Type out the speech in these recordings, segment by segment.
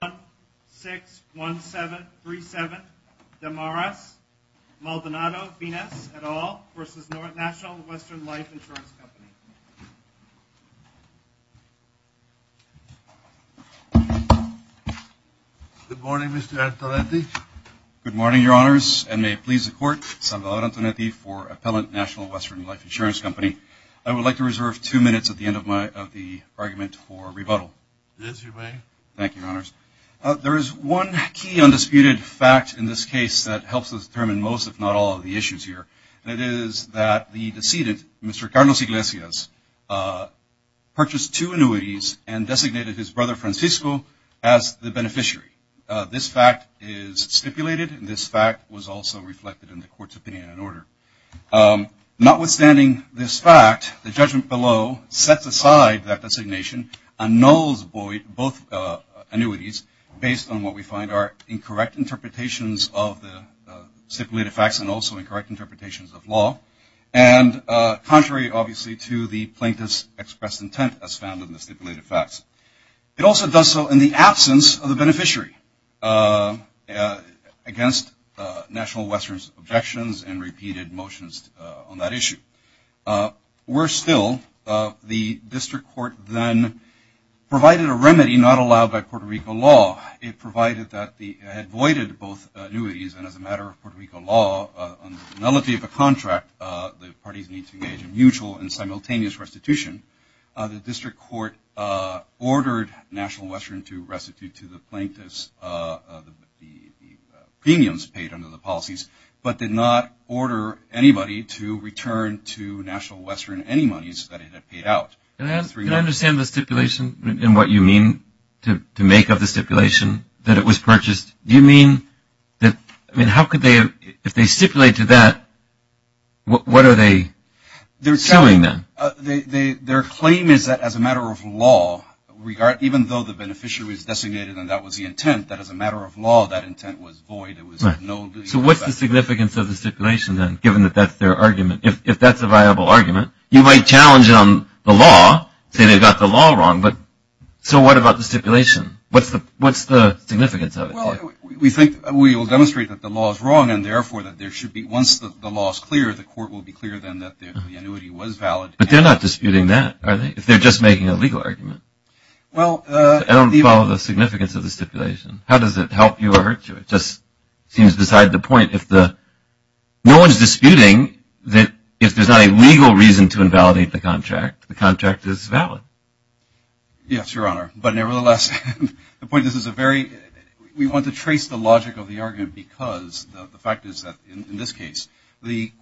Good morning, Mr. Antonetti. Good morning, Your Honors, and may it please the Court, Salvador Antonetti for Appellant National Western Life Insurance Company. I would like to reserve two minutes at the end of the argument for rebuttal. Thank you, Your Honors. There is one key undisputed fact in this case that helps us determine most, if not all, of the issues here, and it is that the decedent, Mr. Carlos Iglesias, purchased two annuities and designated his brother Francisco as the beneficiary. This fact is stipulated, and this fact was also reflected in the Court's opinion and order. Notwithstanding this fact, the judgment below sets aside that designation and nulls both annuities based on what we find are incorrect interpretations of the stipulated facts and also incorrect interpretations of law, and contrary, obviously, to the plaintiff's expressed intent as found in the stipulated facts. It also does so in the absence of the beneficiary against National Western's objections and repeated motions on that issue. Worse still, the district court then provided a remedy not allowed by Puerto Rico law. It provided that the, it voided both annuities, and as a matter of Puerto Rico law, on the penalty of a contract, the parties need to engage in mutual and simultaneous restitution. The district court ordered National Western to pay the plaintiff's, the premiums paid under the policies, but did not order anybody to return to National Western any monies that it had paid out. Can I understand the stipulation and what you mean to make of the stipulation that it was purchased? Do you mean that, I mean, how could they, if they stipulate to that, what are they suing them? Their claim is that as a matter of law, regard, even though the beneficiary was designated and that was the intent, that as a matter of law, that intent was void. It was no legal effect. So what's the significance of the stipulation then, given that that's their argument? If that's a viable argument, you might challenge it on the law, say they got the law wrong, but so what about the stipulation? What's the significance of it? Well, we think, we will demonstrate that the law is wrong and therefore that there should be, once the law is clear, the court will be clear then that the annuity was valid. But they're not disputing that, are they? If they're just making a legal argument. I don't follow the significance of the stipulation. How does it help you or hurt you? It just seems beside the point. No one's disputing that if there's not a legal reason to invalidate the contract, the contract is valid. Yes, Your Honor, but nevertheless, the point is, we want to trace the logic of the argument because the fact is that, in this case, the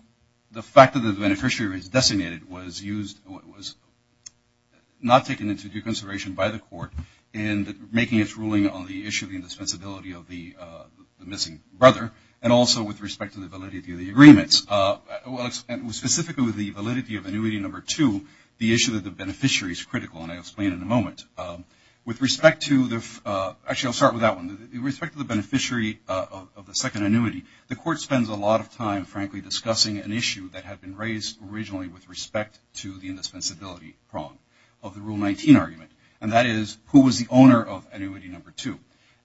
fact that the beneficiary was designated was used, was not taken into due consideration by the court in making its ruling on the issue of the indispensability of the missing brother and also with respect to the validity of the agreements. Specifically with the validity of annuity number two, the issue of the beneficiary is critical, and I'll explain in a moment. With respect to the, actually I'll start with that one. With respect to the beneficiary of the second annuity, the court spends a lot of time, frankly, discussing an issue that had been raised originally with respect to the indispensability prong of the Rule 19 argument. And that is, who was the owner of annuity number two?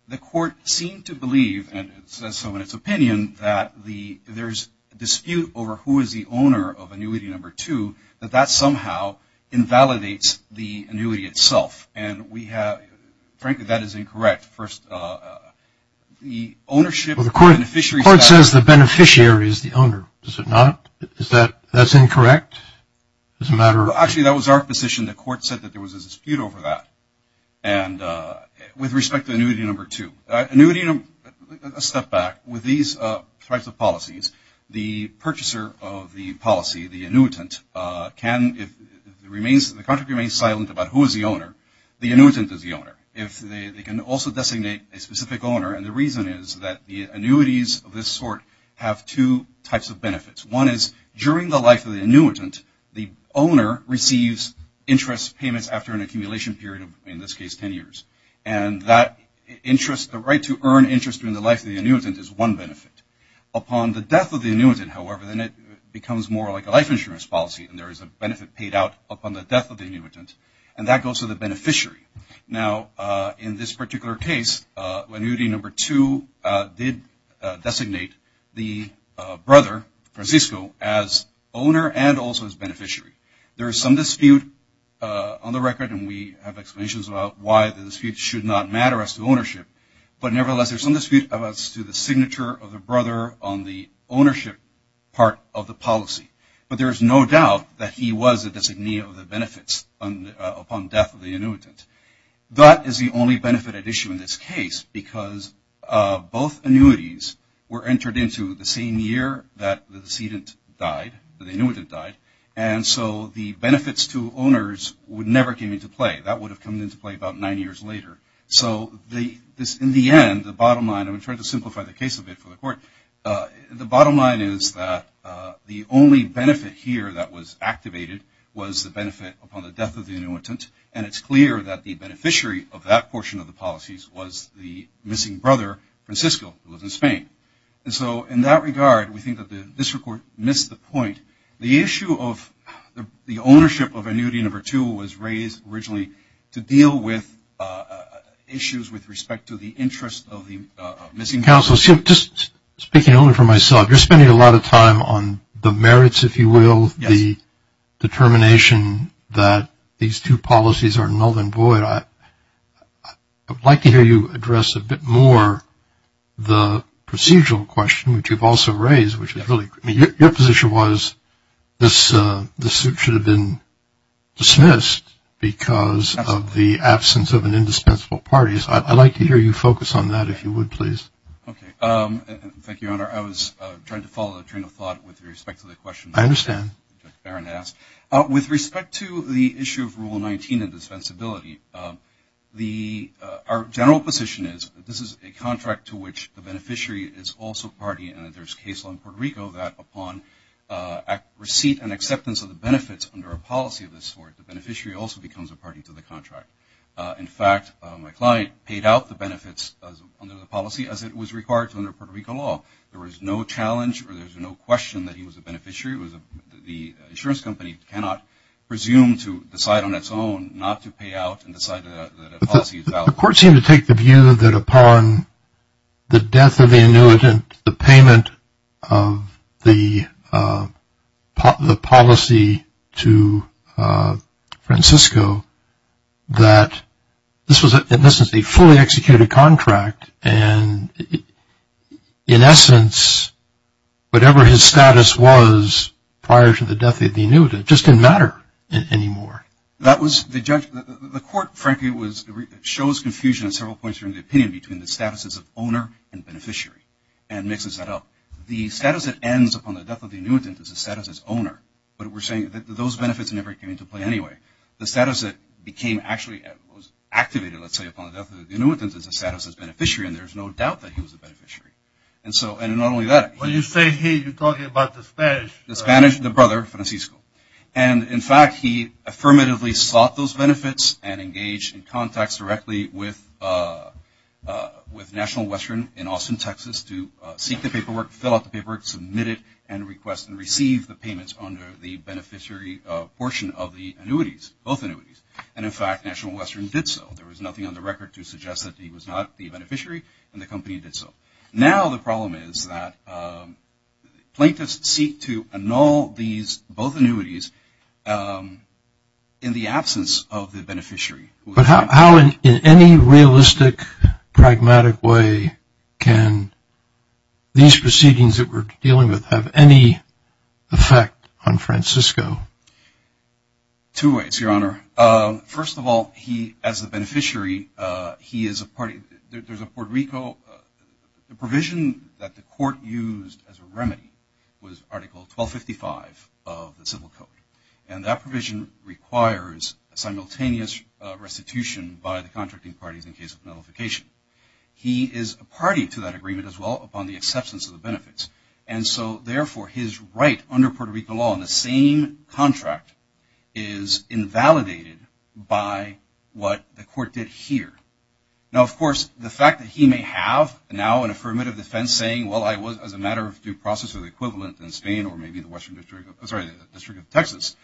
The court seemed to believe, and it says so in its opinion, that there's a dispute over who is the owner of annuity number two, that that somehow invalidates the annuity itself. And we have, frankly, that is incorrect. First, the ownership of the beneficiary. Well, the court says the beneficiary is the owner, does it not? Is that, that's incorrect? Actually, that was our position. The court said that there was a dispute over that. And with respect to annuity number two, annuity number, let's step back. With these types of policies, the purchaser of the policy, the annuitant, can, the contract remains silent about who is the owner. The annuitant is the owner. They can also designate a specific owner. And the reason is that the annuities of this sort have two types of benefits. One is, during the life of the annuitant, the owner receives interest payments after an accumulation period, in this case, 10 years. And that interest, the right to earn interest during the life of the annuitant is one benefit. Upon the death of the annuitant, however, then it becomes more like a life insurance policy and there is a benefit paid out upon the death of the annuitant. And that goes to the beneficiary. Now, in this particular case, annuity number two did designate the brother, Francisco, as owner and also as beneficiary. There is some dispute on the record, and we have explanations about why the dispute should not matter as to ownership. But nevertheless, there's some dispute as to the signature of the brother on the ownership part of the policy. But there is no doubt that he was a designee of the benefits upon death of the annuitant. That is the only benefit at issue in this case, because both annuities were entered into the same year that the decedent died, the annuitant died. And so the benefits to owners would never come into play. That would have come into play about nine years later. So in the end, the bottom line, I'm going to try to simplify the case a bit for the court. The bottom line is that the only benefit here that was activated was the benefit upon the death of the annuitant, and it's clear that the beneficiary of that portion of the policies was the missing brother, Francisco, who lives in Spain. And so in that regard, we think that the district court missed the point. The issue of the ownership of annuity number two was raised originally to deal with issues with respect to the interest of the missing counsel. So just speaking only for myself, you're spending a lot of time on the merits, if you will, the determination that these two policies are null and void. I would like to hear you address a bit more the procedural question, which you've also raised. Your position was this suit should have been dismissed because of the absence of an indispensable parties. I'd like to hear you focus on that, if you would, please. Okay. Thank you, Your Honor. I was trying to follow the train of thought with respect to the question. I understand. With respect to the issue of Rule 19 of dispensability, our general position is that this is a contract to which the beneficiary is also a party, and that there's case law in Puerto Rico that upon receipt and acceptance of the benefits under a policy of this sort, the beneficiary also becomes a party to the contract. In fact, my client paid out the benefits under the policy as it was required under Puerto Rico law. There was no challenge or there's no question that he was a beneficiary. The insurance company cannot presume to decide on its own not to pay out and decide that a policy is valid. The court seemed to take the view that upon the death of the annuitant, the payment of the policy to Francisco, that this is a fully executed contract and, in essence, whatever his status was prior to the death of the annuitant just didn't matter anymore. The court, frankly, shows confusion at several points during the opinion between the status as an owner and beneficiary and mixes that up. The status that ends upon the death of the annuitant is the status as owner, but we're saying that those benefits never came into play anyway. The status that became actually activated, let's say, upon the death of the annuitant is the status as beneficiary, and there's no doubt that he was a beneficiary. And not only that. When you say he, you're talking about the Spanish. The Spanish, the brother, Francisco. And, in fact, he affirmatively sought those benefits and engaged in contacts directly with National Western in Austin, Texas, to seek the paperwork, fill out the paperwork, submit it, and request and receive the payments under the beneficiary portion of the annuities, both annuities. And, in fact, National Western did so. There was nothing on the record to suggest that he was not the beneficiary, and the company did so. Now the problem is that plaintiffs seek to annul these both annuities in the absence of the beneficiary. But how in any realistic, pragmatic way can these proceedings that we're dealing with have any effect on Francisco? Two ways, Your Honor. First of all, he, as a beneficiary, he is a party, there's a Puerto Rico, the provision that the court used as a remedy was Article 1255 of the Civil Code. And that provision requires a simultaneous restitution by the contracting parties in case of nullification. He is a party to that agreement as well, upon the acceptance of the benefits. And so, therefore, his right under Puerto Rico law in the same contract is invalidated by what the court did here. Now, of course, the fact that he may have now an affirmative defense saying, well, I was as a matter of due process of the equivalent in Spain or maybe the district of Texas,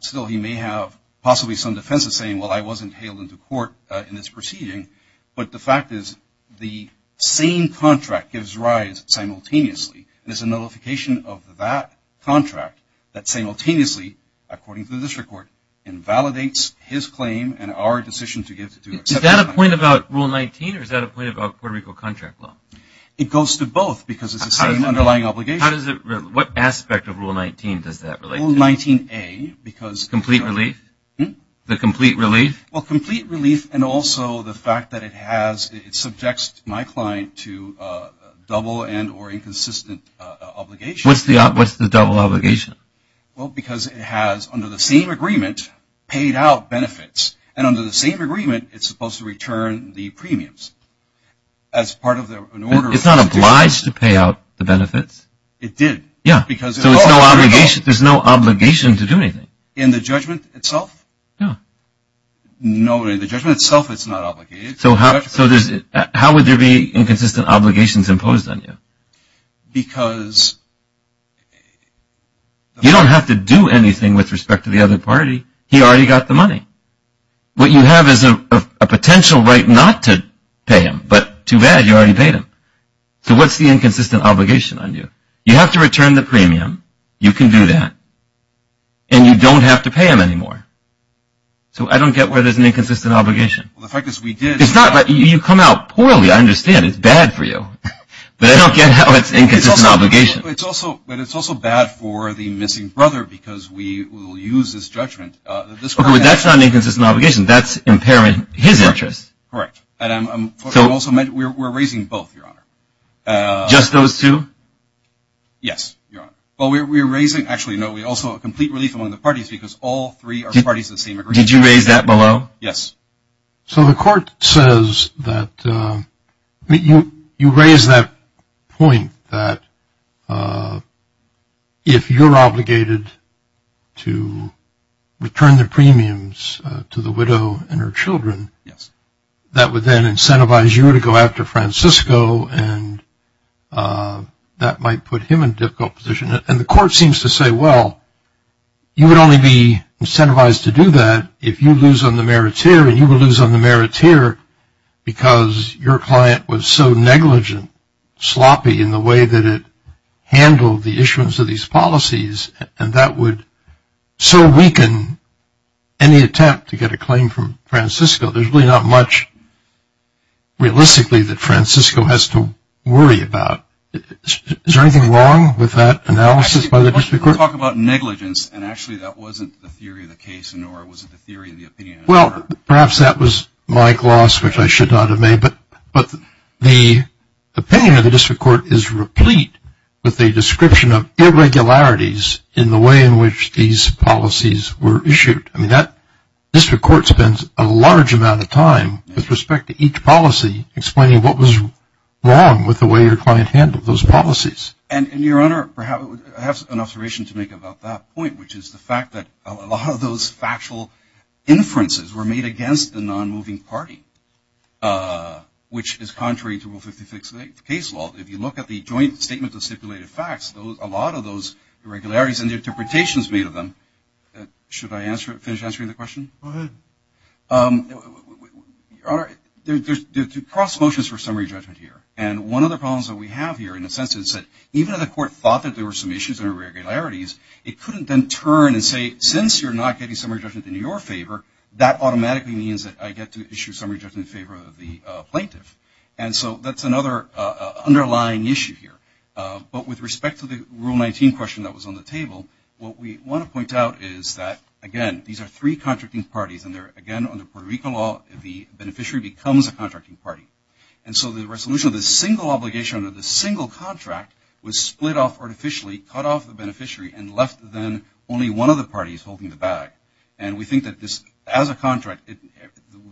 still he may have possibly some defenses saying, well, I wasn't hailed into court in this proceeding. But the fact is the same contract gives rise simultaneously. There's a nullification of that contract that simultaneously, according to the district court, invalidates his claim and our decision to give it to him. Is that a point about Rule 19 or is that a point about Puerto Rico contract law? It goes to both because it's the same underlying obligation. How does it, what aspect of Rule 19 does that relate to? Rule 19A because. Complete relief? Hmm? The complete relief? Well, complete relief and also the fact that it has, it subjects my client to double and or inconsistent obligation. What's the double obligation? Well, because it has, under the same agreement, paid out benefits. And under the same agreement, it's supposed to return the premiums. As part of an order. It's not obliged to pay out the benefits. It did. Yeah. Because. There's no obligation to do anything. In the judgment itself? No. No, in the judgment itself, it's not obligated. So, how would there be inconsistent obligations imposed on you? Because. You don't have to do anything with respect to the other party. He already got the money. What you have is a potential right not to pay him, but too bad, you already paid him. So, what's the inconsistent obligation on you? You have to return the premium. You can do that. And you don't have to pay him anymore. So, I don't get where there's an inconsistent obligation. The fact is, we did. It's not, you come out poorly, I understand. It's bad for you. But I don't get how it's inconsistent obligation. It's also bad for the missing brother because we will use this judgment. That's not an inconsistent obligation. That's impairing his interest. Correct. And I'm also, we're raising both, Your Honor. Just those two? Yes, Your Honor. Well, we're raising, actually, no, we also have complete relief among the parties because all three are parties of the same agreement. Did you raise that below? Yes. So, the court says that, you raise that point that if you're obligated to return the premiums to the widow and her children, that would then incentivize you to go after Francisco and that might put him in a difficult position. And the court seems to say, well, you would only be incentivized to do that if you lose on the meriteer and you would lose on the meriteer because your client was so negligent, sloppy, in the way that it handled the issuance of these policies and that would so weaken any attempt to get a claim from Francisco. There's really not much, realistically, that Francisco has to worry about. Is there anything wrong with that analysis by the district court? You talk about negligence and, actually, that wasn't the theory of the case, nor was it the theory of the opinion. Well, perhaps that was my gloss, which I should not have made, but the opinion of the district court is replete with the description of irregularities in the way in which these policies were issued. I mean, that district court spends a large amount of time, with respect to each policy, explaining what was wrong with the way your client handled those policies. And, Your Honor, I have an observation to make about that point, which is the fact that a lot of those factual inferences were made against the non-moving party, which is contrary to Rule 56 case law. If you look at the joint statement of stipulated facts, a lot of those irregularities and the interpretations made of them, should I finish answering the question? Go ahead. Your Honor, there's cross motions for summary judgment here. And one of the problems that we have here, in a sense, is that even though the court thought that there were some issues and irregularities, it couldn't then turn and say, since you're not getting summary judgment in your favor, that automatically means that I get to issue summary judgment in favor of the plaintiff. And so that's another underlying issue here. But with respect to the Rule 19 question that was on the table, what we want to point out is that, again, these are three contracting parties, and they're, again, under Puerto Rico law, the beneficiary becomes a contracting party. And so the resolution of the single obligation under the single contract was split off artificially, cut off the beneficiary, and left then only one of the parties holding the bag. And we think that this, as a contract,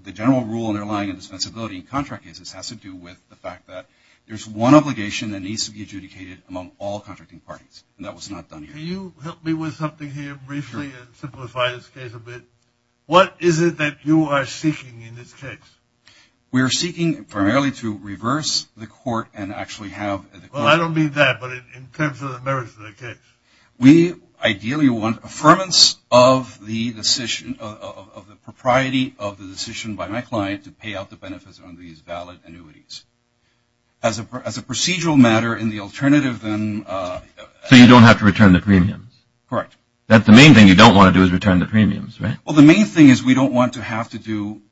the general rule underlying indispensability in contract cases has to do with the fact that there's one obligation that needs to be adjudicated among all contracting parties. And that was not done here. Can you help me with something here briefly and simplify this case a bit? What is it that you are seeking in this case? We are seeking primarily to reverse the court and actually have the court. Well, I don't mean that, but in terms of the merits of the case. We ideally want affirmance of the decision, of the propriety of the decision by my client to pay out the benefits on these valid annuities. As a procedural matter, in the alternative then. So you don't have to return the premiums? Correct. That's the main thing you don't want to do is return the premiums, right? Well, the main thing is we don't want to have to do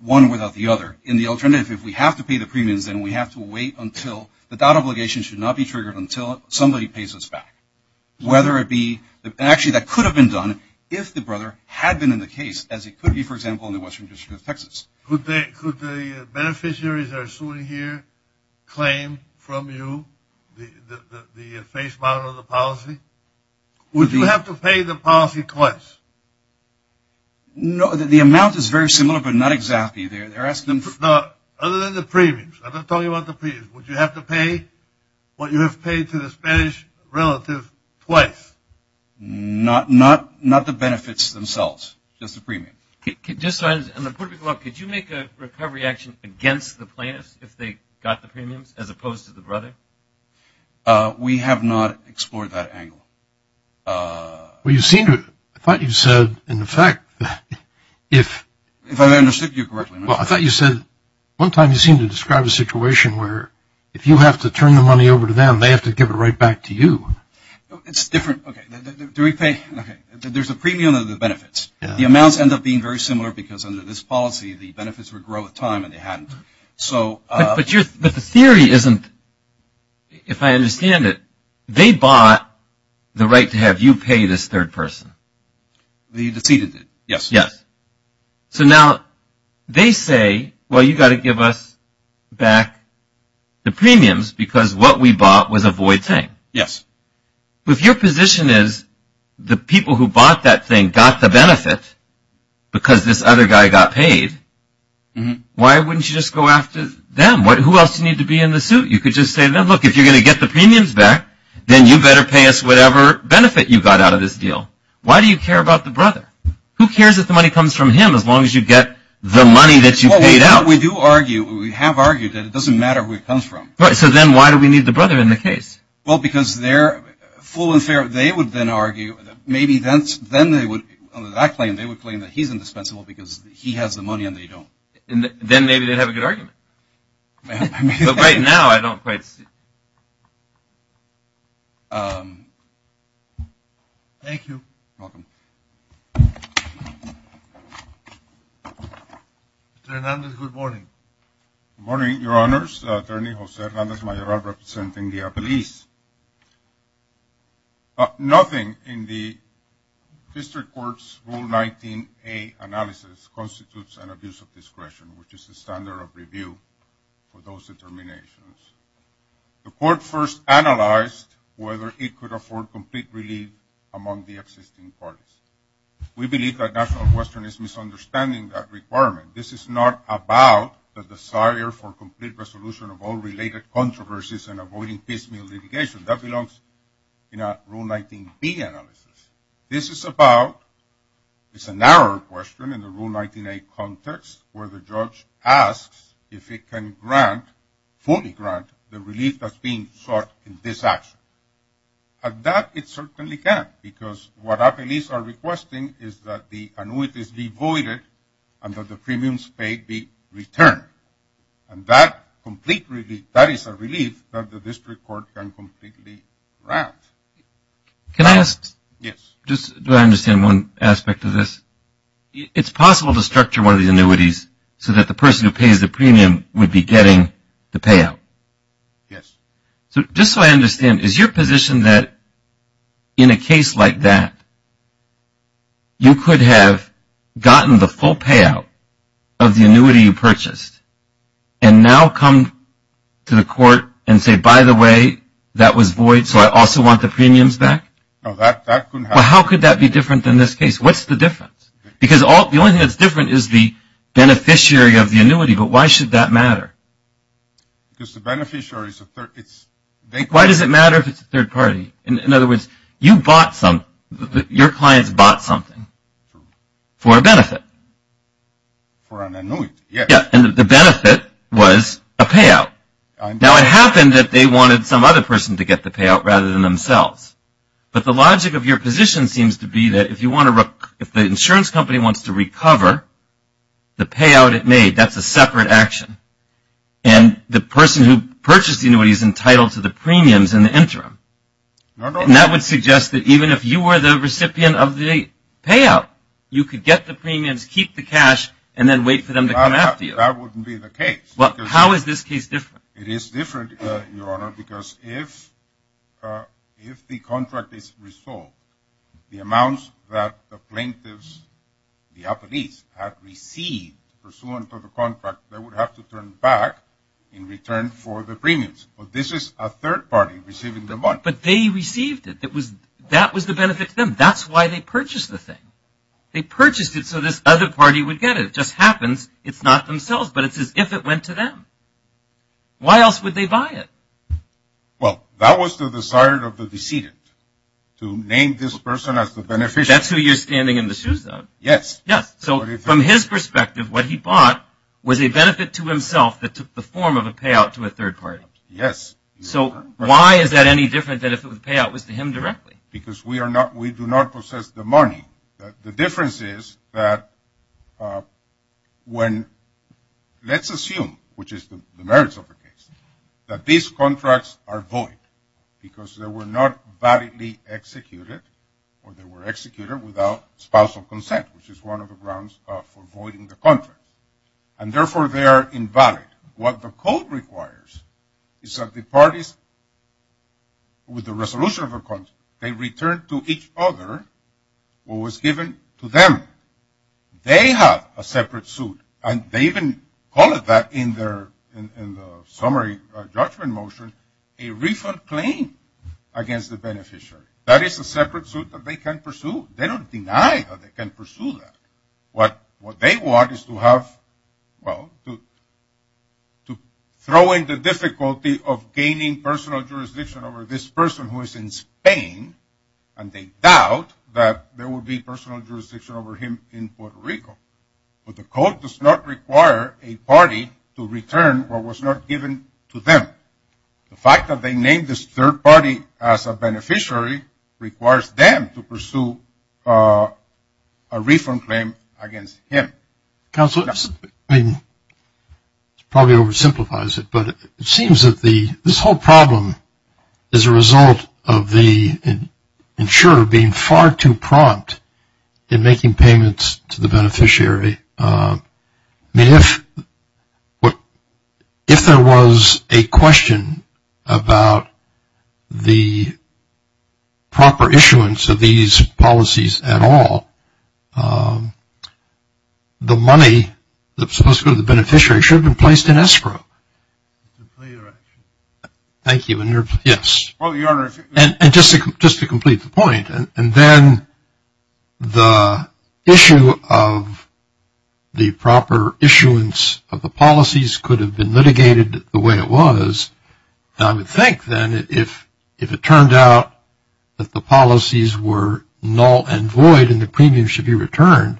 one without the other. In the alternative, if we have to pay the premiums, then we have to wait until the doubt obligation should not be triggered until somebody pays us back. Whether it be, actually that could have been done if the brother had been in the case, as it could be, for example, in the western district of Texas. Could the beneficiaries that are suing here claim from you the face amount of the policy? Would you have to pay the policy twice? No, the amount is very similar, but not exactly. Other than the premiums, I'm not talking about the premiums. Would you have to pay what you have paid to the Spanish relative twice? Not the benefits themselves, just the premium. Just so I understand, could you make a recovery action against the plaintiffs if they got the premiums as opposed to the brother? We have not explored that angle. Well, you seem to – I thought you said, in effect, if – If I understood you correctly. Well, I thought you said one time you seemed to describe a situation where if you have to turn the money over to them, they have to give it right back to you. It's different. Okay. Do we pay – okay. There's a premium and the benefits. The amounts end up being very similar because under this policy, the benefits would grow with time and they hadn't. But the theory isn't – if I understand it, they bought the right to have you pay this third person. You deceived it. Yes. Yes. So now they say, well, you've got to give us back the premiums because what we bought was a void thing. Yes. If your position is the people who bought that thing got the benefit because this other guy got paid, why wouldn't you just go after them? Who else would need to be in the suit? You could just say, well, look, if you're going to get the premiums back, then you better pay us whatever benefit you got out of this deal. Why do you care about the brother? Who cares if the money comes from him as long as you get the money that you paid out? Well, we do argue – we have argued that it doesn't matter where it comes from. So then why do we need the brother in the case? Well, because they're full and fair. They would then argue – maybe then they would – on that claim, they would claim that he's indispensable because he has the money and they don't. Then maybe they'd have a good argument. But right now I don't quite see it. Thank you. You're welcome. Mr. Hernandez, good morning. Good morning, Your Honors. Attorney Jose Hernandez-Mayoral representing the police. Nothing in the district court's Rule 19A analysis constitutes an abuse of discretion, which is the standard of review for those determinations. The court first analyzed whether it could afford complete relief among the existing parties. We believe that National Western is misunderstanding that requirement. This is not about the desire for complete resolution of all related controversies and avoiding piecemeal litigation. That belongs in a Rule 19B analysis. This is about – it's a narrower question in the Rule 19A context where the judge asks if it can grant, fully grant, the relief that's being sought in this action. At that, it certainly can't because what our police are requesting is that the annuities be voided and that the premiums paid be returned. And that complete relief, that is a relief that the district court can completely grant. Can I ask? Yes. Do I understand one aspect of this? It's possible to structure one of the annuities so that the person who pays the premium would be getting the payout. Yes. So just so I understand, is your position that in a case like that, you could have gotten the full payout of the annuity you purchased and now come to the court and say, by the way, that was void, so I also want the premiums back? No, that couldn't happen. Well, how could that be different than this case? What's the difference? Because the only thing that's different is the beneficiary of the annuity, but why should that matter? Because the beneficiary is a third party. Why does it matter if it's a third party? In other words, you bought some, your clients bought something for a benefit. For an annuity, yes. Yeah, and the benefit was a payout. Now, it happened that they wanted some other person to get the payout rather than themselves. But the logic of your position seems to be that if you want to, if the insurance company wants to recover the payout it made, that's a separate action, and the person who purchased the annuity is entitled to the premiums in the interim. And that would suggest that even if you were the recipient of the payout, you could get the premiums, keep the cash, and then wait for them to come after you. That wouldn't be the case. Well, how is this case different? It is different, Your Honor, because if the contract is resolved, the amounts that the plaintiffs, the appellees, have received pursuant to the contract, they would have to turn back in return for the premiums. But this is a third party receiving the money. But they received it. That was the benefit to them. That's why they purchased the thing. They purchased it so this other party would get it. If it just happens, it's not themselves, but it's as if it went to them. Why else would they buy it? Well, that was the desire of the decedent to name this person as the beneficiary. That's who you're standing in the shoes of. Yes. Yes. So from his perspective, what he bought was a benefit to himself that took the form of a payout to a third party. Yes. So why is that any different than if the payout was to him directly? Because we do not possess the money. The difference is that when let's assume, which is the merits of the case, that these contracts are void because they were not validly executed or they were executed without spousal consent, which is one of the grounds for voiding the contract. And, therefore, they are invalid. What the code requires is that the parties, with the resolution of the contract, they return to each other what was given to them. They have a separate suit, and they even call it that in the summary judgment motion, a refund claim against the beneficiary. That is a separate suit that they can pursue. They don't deny that they can pursue that. What they want is to have, well, to throw in the difficulty of gaining personal jurisdiction over this person who is in Spain, and they doubt that there will be personal jurisdiction over him in Puerto Rico. But the code does not require a party to return what was not given to them. The fact that they named this third party as a beneficiary requires them to pursue a refund claim against him. Counsel, this probably oversimplifies it, but it seems that this whole problem is a result of the insurer being far too prompt in making payments to the beneficiary. I mean, if there was a question about the proper issuance of these policies at all, the money that's supposed to go to the beneficiary should have been placed in escrow. Thank you. Yes. And just to complete the point, and then the issue of the proper issuance of the policies could have been litigated the way it was, and I would think then if it turned out that the policies were null and void and the premium should be returned,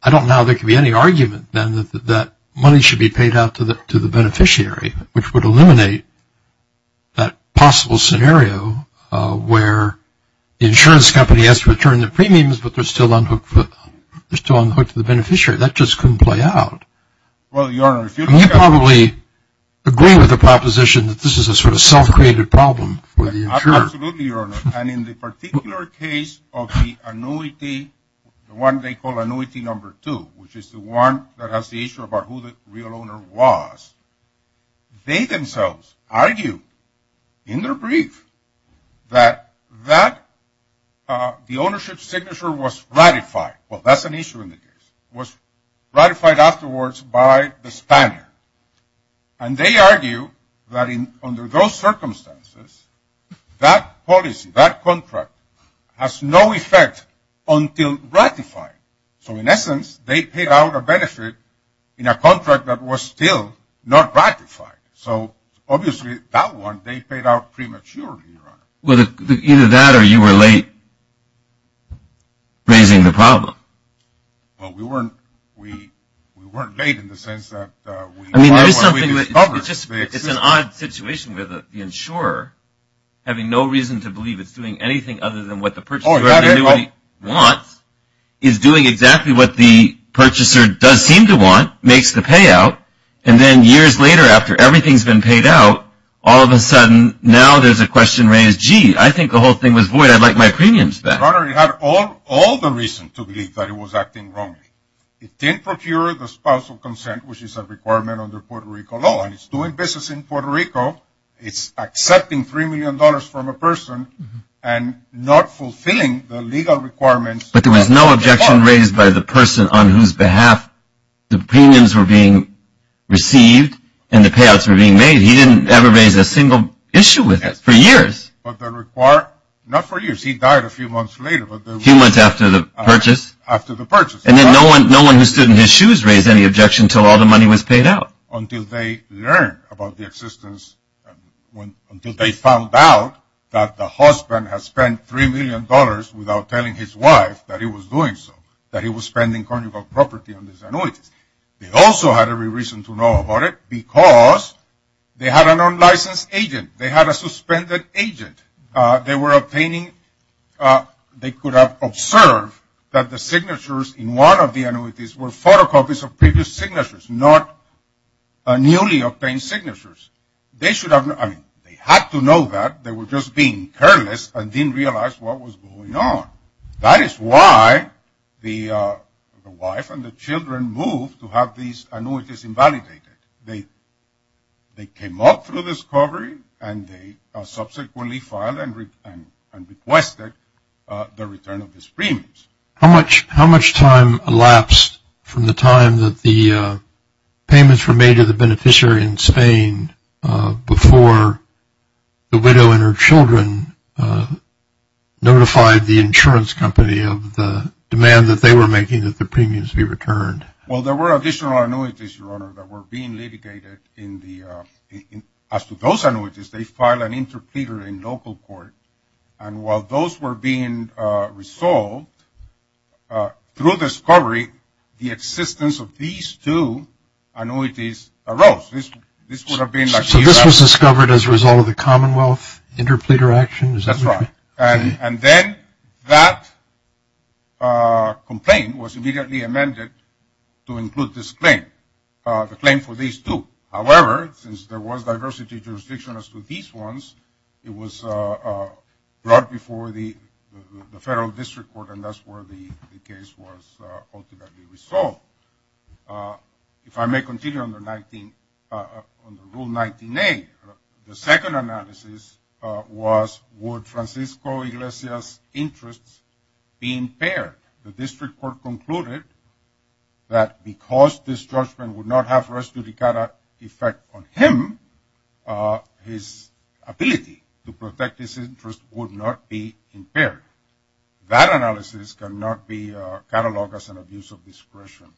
I don't know how there could be any argument then that that money should be paid out to the beneficiary, which would eliminate that possible scenario where the insurance company has to return the premiums, but they're still on the hook to the beneficiary. That just couldn't play out. Well, Your Honor. You probably agree with the proposition that this is a sort of self-created problem for the insurer. Absolutely, Your Honor. And in the particular case of the annuity, the one they call annuity number two, which is the one that has the issue about who the real owner was, they themselves argue in their brief that the ownership signature was ratified. Well, that's an issue in the case. It was ratified afterwards by the spanner, and they argue that under those circumstances that policy, that contract, has no effect until ratified. So, in essence, they paid out a benefit in a contract that was still not ratified. So, obviously, that one they paid out prematurely, Your Honor. Well, either that or you were late raising the problem. Well, we weren't late in the sense that we discovered. It's an odd situation where the insurer, having no reason to believe it's doing anything other than what the purchaser wants, is doing exactly what the purchaser does seem to want, makes the payout, and then years later after everything's been paid out, all of a sudden now there's a question raised, gee, I think the whole thing was void. I'd like my premiums back. Your Honor, it had all the reason to believe that it was acting wrongly. It didn't procure the spousal consent, which is a requirement under Puerto Rico law, and it's doing business in Puerto Rico. It's accepting $3 million from a person and not fulfilling the legal requirements. But there was no objection raised by the person on whose behalf the premiums were being received and the payouts were being made. He didn't ever raise a single issue with it for years. Not for years. He died a few months later. A few months after the purchase. After the purchase. And then no one who stood in his shoes raised any objection until all the money was paid out. Until they learned about the existence, until they found out that the husband has spent $3 million without telling his wife that he was doing so. That he was spending carnival property on these annuities. They also had every reason to know about it because they had an unlicensed agent. They had a suspended agent. They were obtaining, they could have observed that the signatures in one of the annuities were photocopies of previous signatures, not newly obtained signatures. They should have, I mean, they had to know that. They were just being careless and didn't realize what was going on. That is why the wife and the children moved to have these annuities invalidated. They came up through this covery and they subsequently filed and requested the return of these premiums. How much time elapsed from the time that the payments were made to the beneficiary in Spain before the widow and her children notified the insurance company of the demand that they were making that the premiums be returned? Well, there were additional annuities, Your Honor, that were being litigated. As to those annuities, they filed an interpleader in local court. And while those were being resolved, through discovery, the existence of these two annuities arose. This would have been like the U.S. So this was discovered as a result of the Commonwealth interpleader action? That's right. And then that complaint was immediately amended to include this claim, the claim for these two. It was brought before the federal district court, and that's where the case was ultimately resolved. If I may continue on the Rule 19A, the second analysis was would Francisco Iglesias' interests be impaired? The district court concluded that because this judgment would not have res judicata effect on him, his ability to protect his interests would not be impaired. That analysis cannot be cataloged as an abuse of discretion.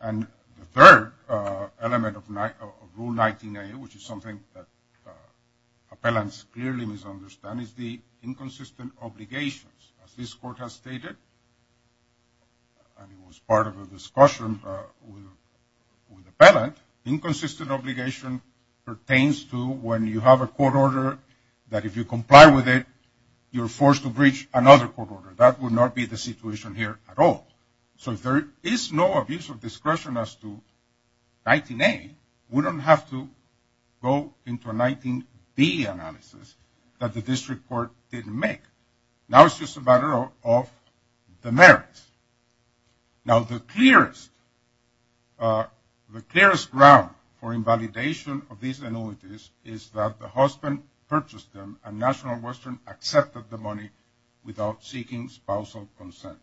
And the third element of Rule 19A, which is something that appellants clearly misunderstand, is the inconsistent obligations. As this court has stated, and it was part of a discussion with the appellant, inconsistent obligation pertains to when you have a court order that if you comply with it, you're forced to breach another court order. That would not be the situation here at all. So if there is no abuse of discretion as to 19A, we don't have to go into a 19B analysis that the district court didn't make. Now it's just a matter of the merits. Now the clearest ground for invalidation of these annuities is that the husband purchased them and National Western accepted the money without seeking spousal consent.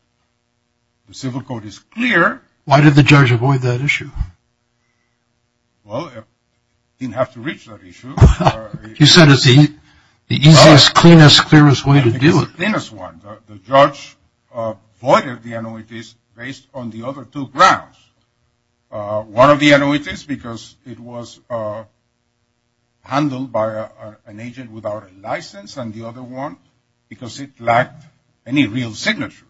The civil code is clear. Why did the judge avoid that issue? Well, he didn't have to reach that issue. You said it's the easiest, cleanest, clearest way to do it. It's the cleanest one. The judge avoided the annuities based on the other two grounds. One of the annuities because it was handled by an agent without a license, and the other one because it lacked any real signatures.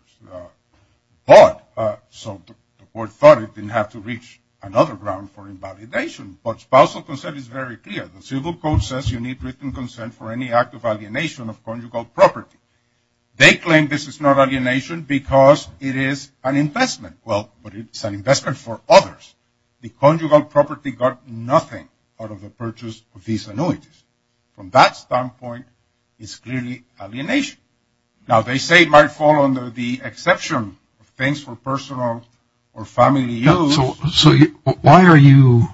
So the court thought it didn't have to reach another ground for invalidation. But spousal consent is very clear. The civil code says you need written consent for any act of alienation of conjugal property. They claim this is not alienation because it is an investment. Well, but it's an investment for others. The conjugal property got nothing out of the purchase of these annuities. From that standpoint, it's clearly alienation. Now they say it might fall under the exception of things for personal or family use. So why are you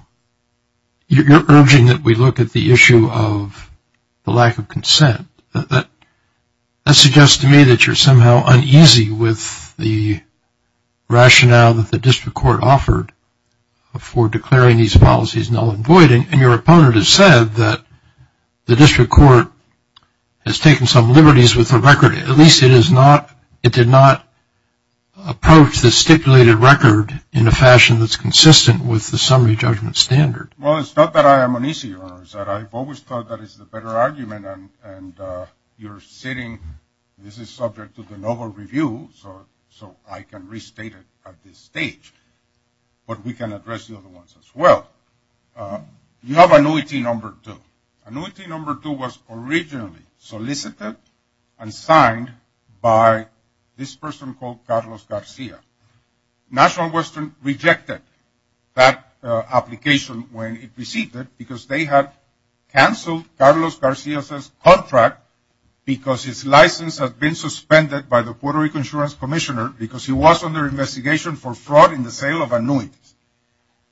urging that we look at the issue of the lack of consent? That suggests to me that you're somehow uneasy with the rationale that the district court offered for declaring these policies null and void, and your opponent has said that the district court has taken some liberties with the record. At least it did not approach the stipulated record in a fashion that's consistent with the summary judgment standard. Well, it's not that I am uneasy, Your Honor. It's that I've always thought that it's the better argument, and you're sitting. This is subject to the novel review, so I can restate it at this stage. But we can address the other ones as well. You have annuity number two. Annuity number two was originally solicited and signed by this person called Carlos Garcia. National Western rejected that application when it received it because they had canceled Carlos Garcia's contract because his license had been suspended by the Puerto Rican insurance commissioner because he was under investigation for fraud in the sale of annuities,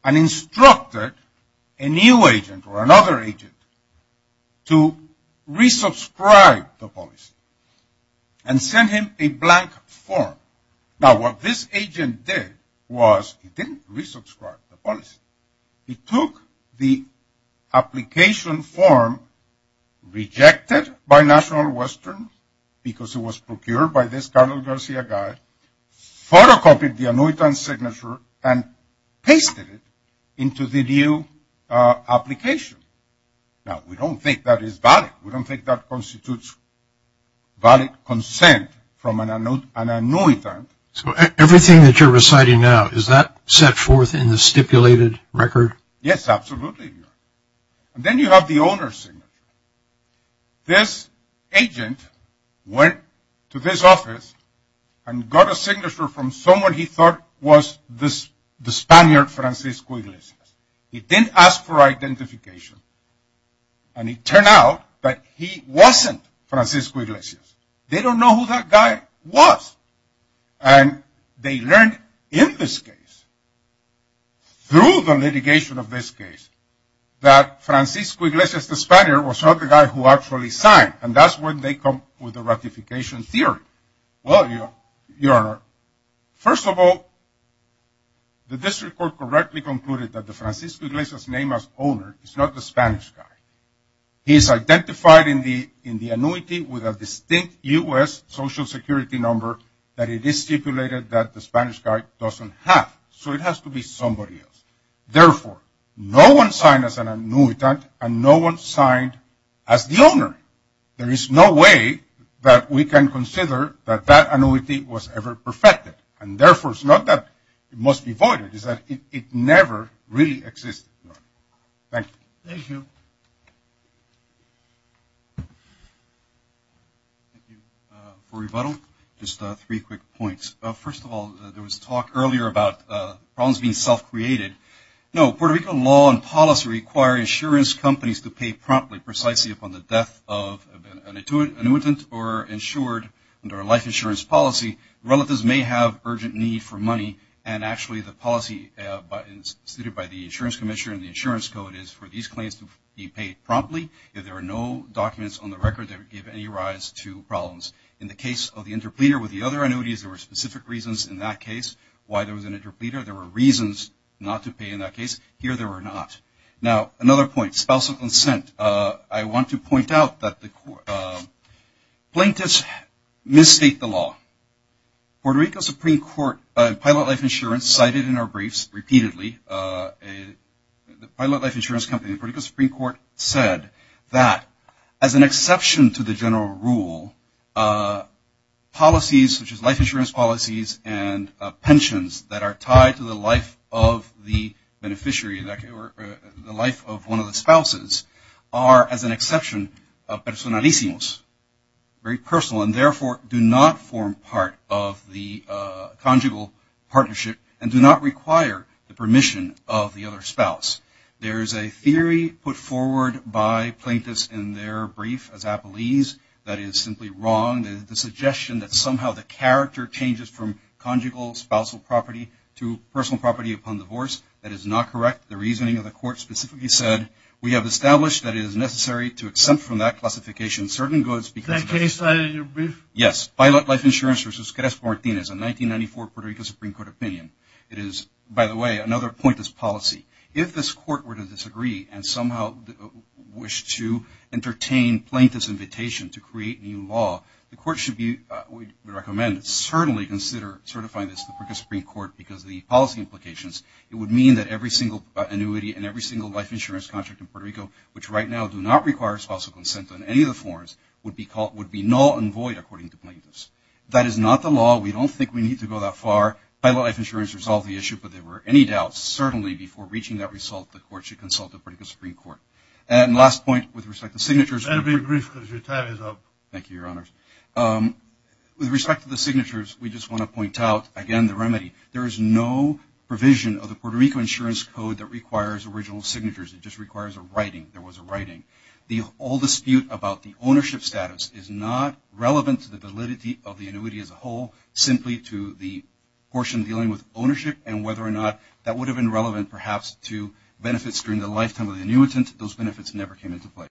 and instructed a new agent or another agent to re-subscribe the policy and send him a blank form. Now, what this agent did was he didn't re-subscribe the policy. He took the application form rejected by National Western because it was procured by this Carlos Garcia guy, photocopied the annuitant signature, and pasted it into the new application. Now, we don't think that is valid. We don't think that constitutes valid consent from an annuitant. So, everything that you're reciting now, is that set forth in the stipulated record? Yes, absolutely, Your Honor. And then you have the owner's signature. This agent went to this office and got a signature from someone he thought was the Spaniard Francisco Iglesias. He didn't ask for identification, and it turned out that he wasn't Francisco Iglesias. They don't know who that guy was, and they learned in this case, through the litigation of this case, that Francisco Iglesias, the Spaniard, was not the guy who actually signed. And that's when they come with the ratification theory. Well, Your Honor, first of all, the district court correctly concluded that the Francisco Iglesias name as owner is not the Spanish guy. He is identified in the annuity with a distinct U.S. Social Security number that it is stipulated that the Spanish guy doesn't have. So, it has to be somebody else. Therefore, no one signed as an annuitant, and no one signed as the owner. There is no way that we can consider that that annuity was ever perfected. And therefore, it's not that it must be voided. It's that it never really existed. Thank you. Thank you. For rebuttal, just three quick points. First of all, there was talk earlier about problems being self-created. No, Puerto Rican law and policy require insurance companies to pay promptly, precisely upon the death of an annuitant or insured under a life insurance policy. Relatives may have urgent need for money, and actually, the policy stated by the insurance commissioner in the insurance code is for these claims to be paid promptly. If there are no documents on the record that give any rise to problems. In the case of the interpleader with the other annuities, there were specific reasons in that case why there was an interpleader. There were reasons not to pay in that case. Here, there were not. Now, another point, spousal consent. I want to point out that the plaintiffs misstate the law. Puerto Rico's Supreme Court, Pilot Life Insurance, cited in our briefs repeatedly. The Pilot Life Insurance Company in the Puerto Rico Supreme Court said that, as an exception to the general rule, policies such as life insurance policies and pensions that are tied to the life of the beneficiary or the life of one of the spouses are, as an exception, personalisimos, very personal, and therefore do not form part of the conjugal partnership and do not require the permission of the other spouse. There is a theory put forward by plaintiffs in their brief as appellees that is simply wrong, the suggestion that somehow the character changes from conjugal spousal property to personal property upon divorce. That is not correct. The reasoning of the court specifically said, we have established that it is necessary to exempt from that classification certain goods. Is that case cited in your brief? Yes. Pilot Life Insurance versus Crespo Martinez, a 1994 Puerto Rico Supreme Court opinion. It is, by the way, another plaintiff's policy. If this court were to disagree and somehow wish to entertain plaintiff's invitation to create new law, the court should be recommended to certainly consider certifying this to the Puerto Rico Supreme Court because of the policy implications. It would mean that every single annuity and every single life insurance contract in Puerto Rico, which right now do not require spousal consent on any of the forms, would be null and void, according to plaintiffs. That is not the law. We don't think we need to go that far. Pilot Life Insurance resolved the issue, but there were any doubts, certainly before reaching that result the court should consult the Puerto Rico Supreme Court. And last point with respect to signatures. That will be brief because your time is up. Thank you, Your Honors. With respect to the signatures, we just want to point out, again, the remedy. There is no provision of the Puerto Rico Insurance Code that requires original signatures. It just requires a writing. There was a writing. The whole dispute about the ownership status is not relevant to the validity of the annuity as a whole, simply to the portion dealing with ownership and whether or not that would have been relevant perhaps to benefits during the lifetime of the annuitant. Those benefits never came into play.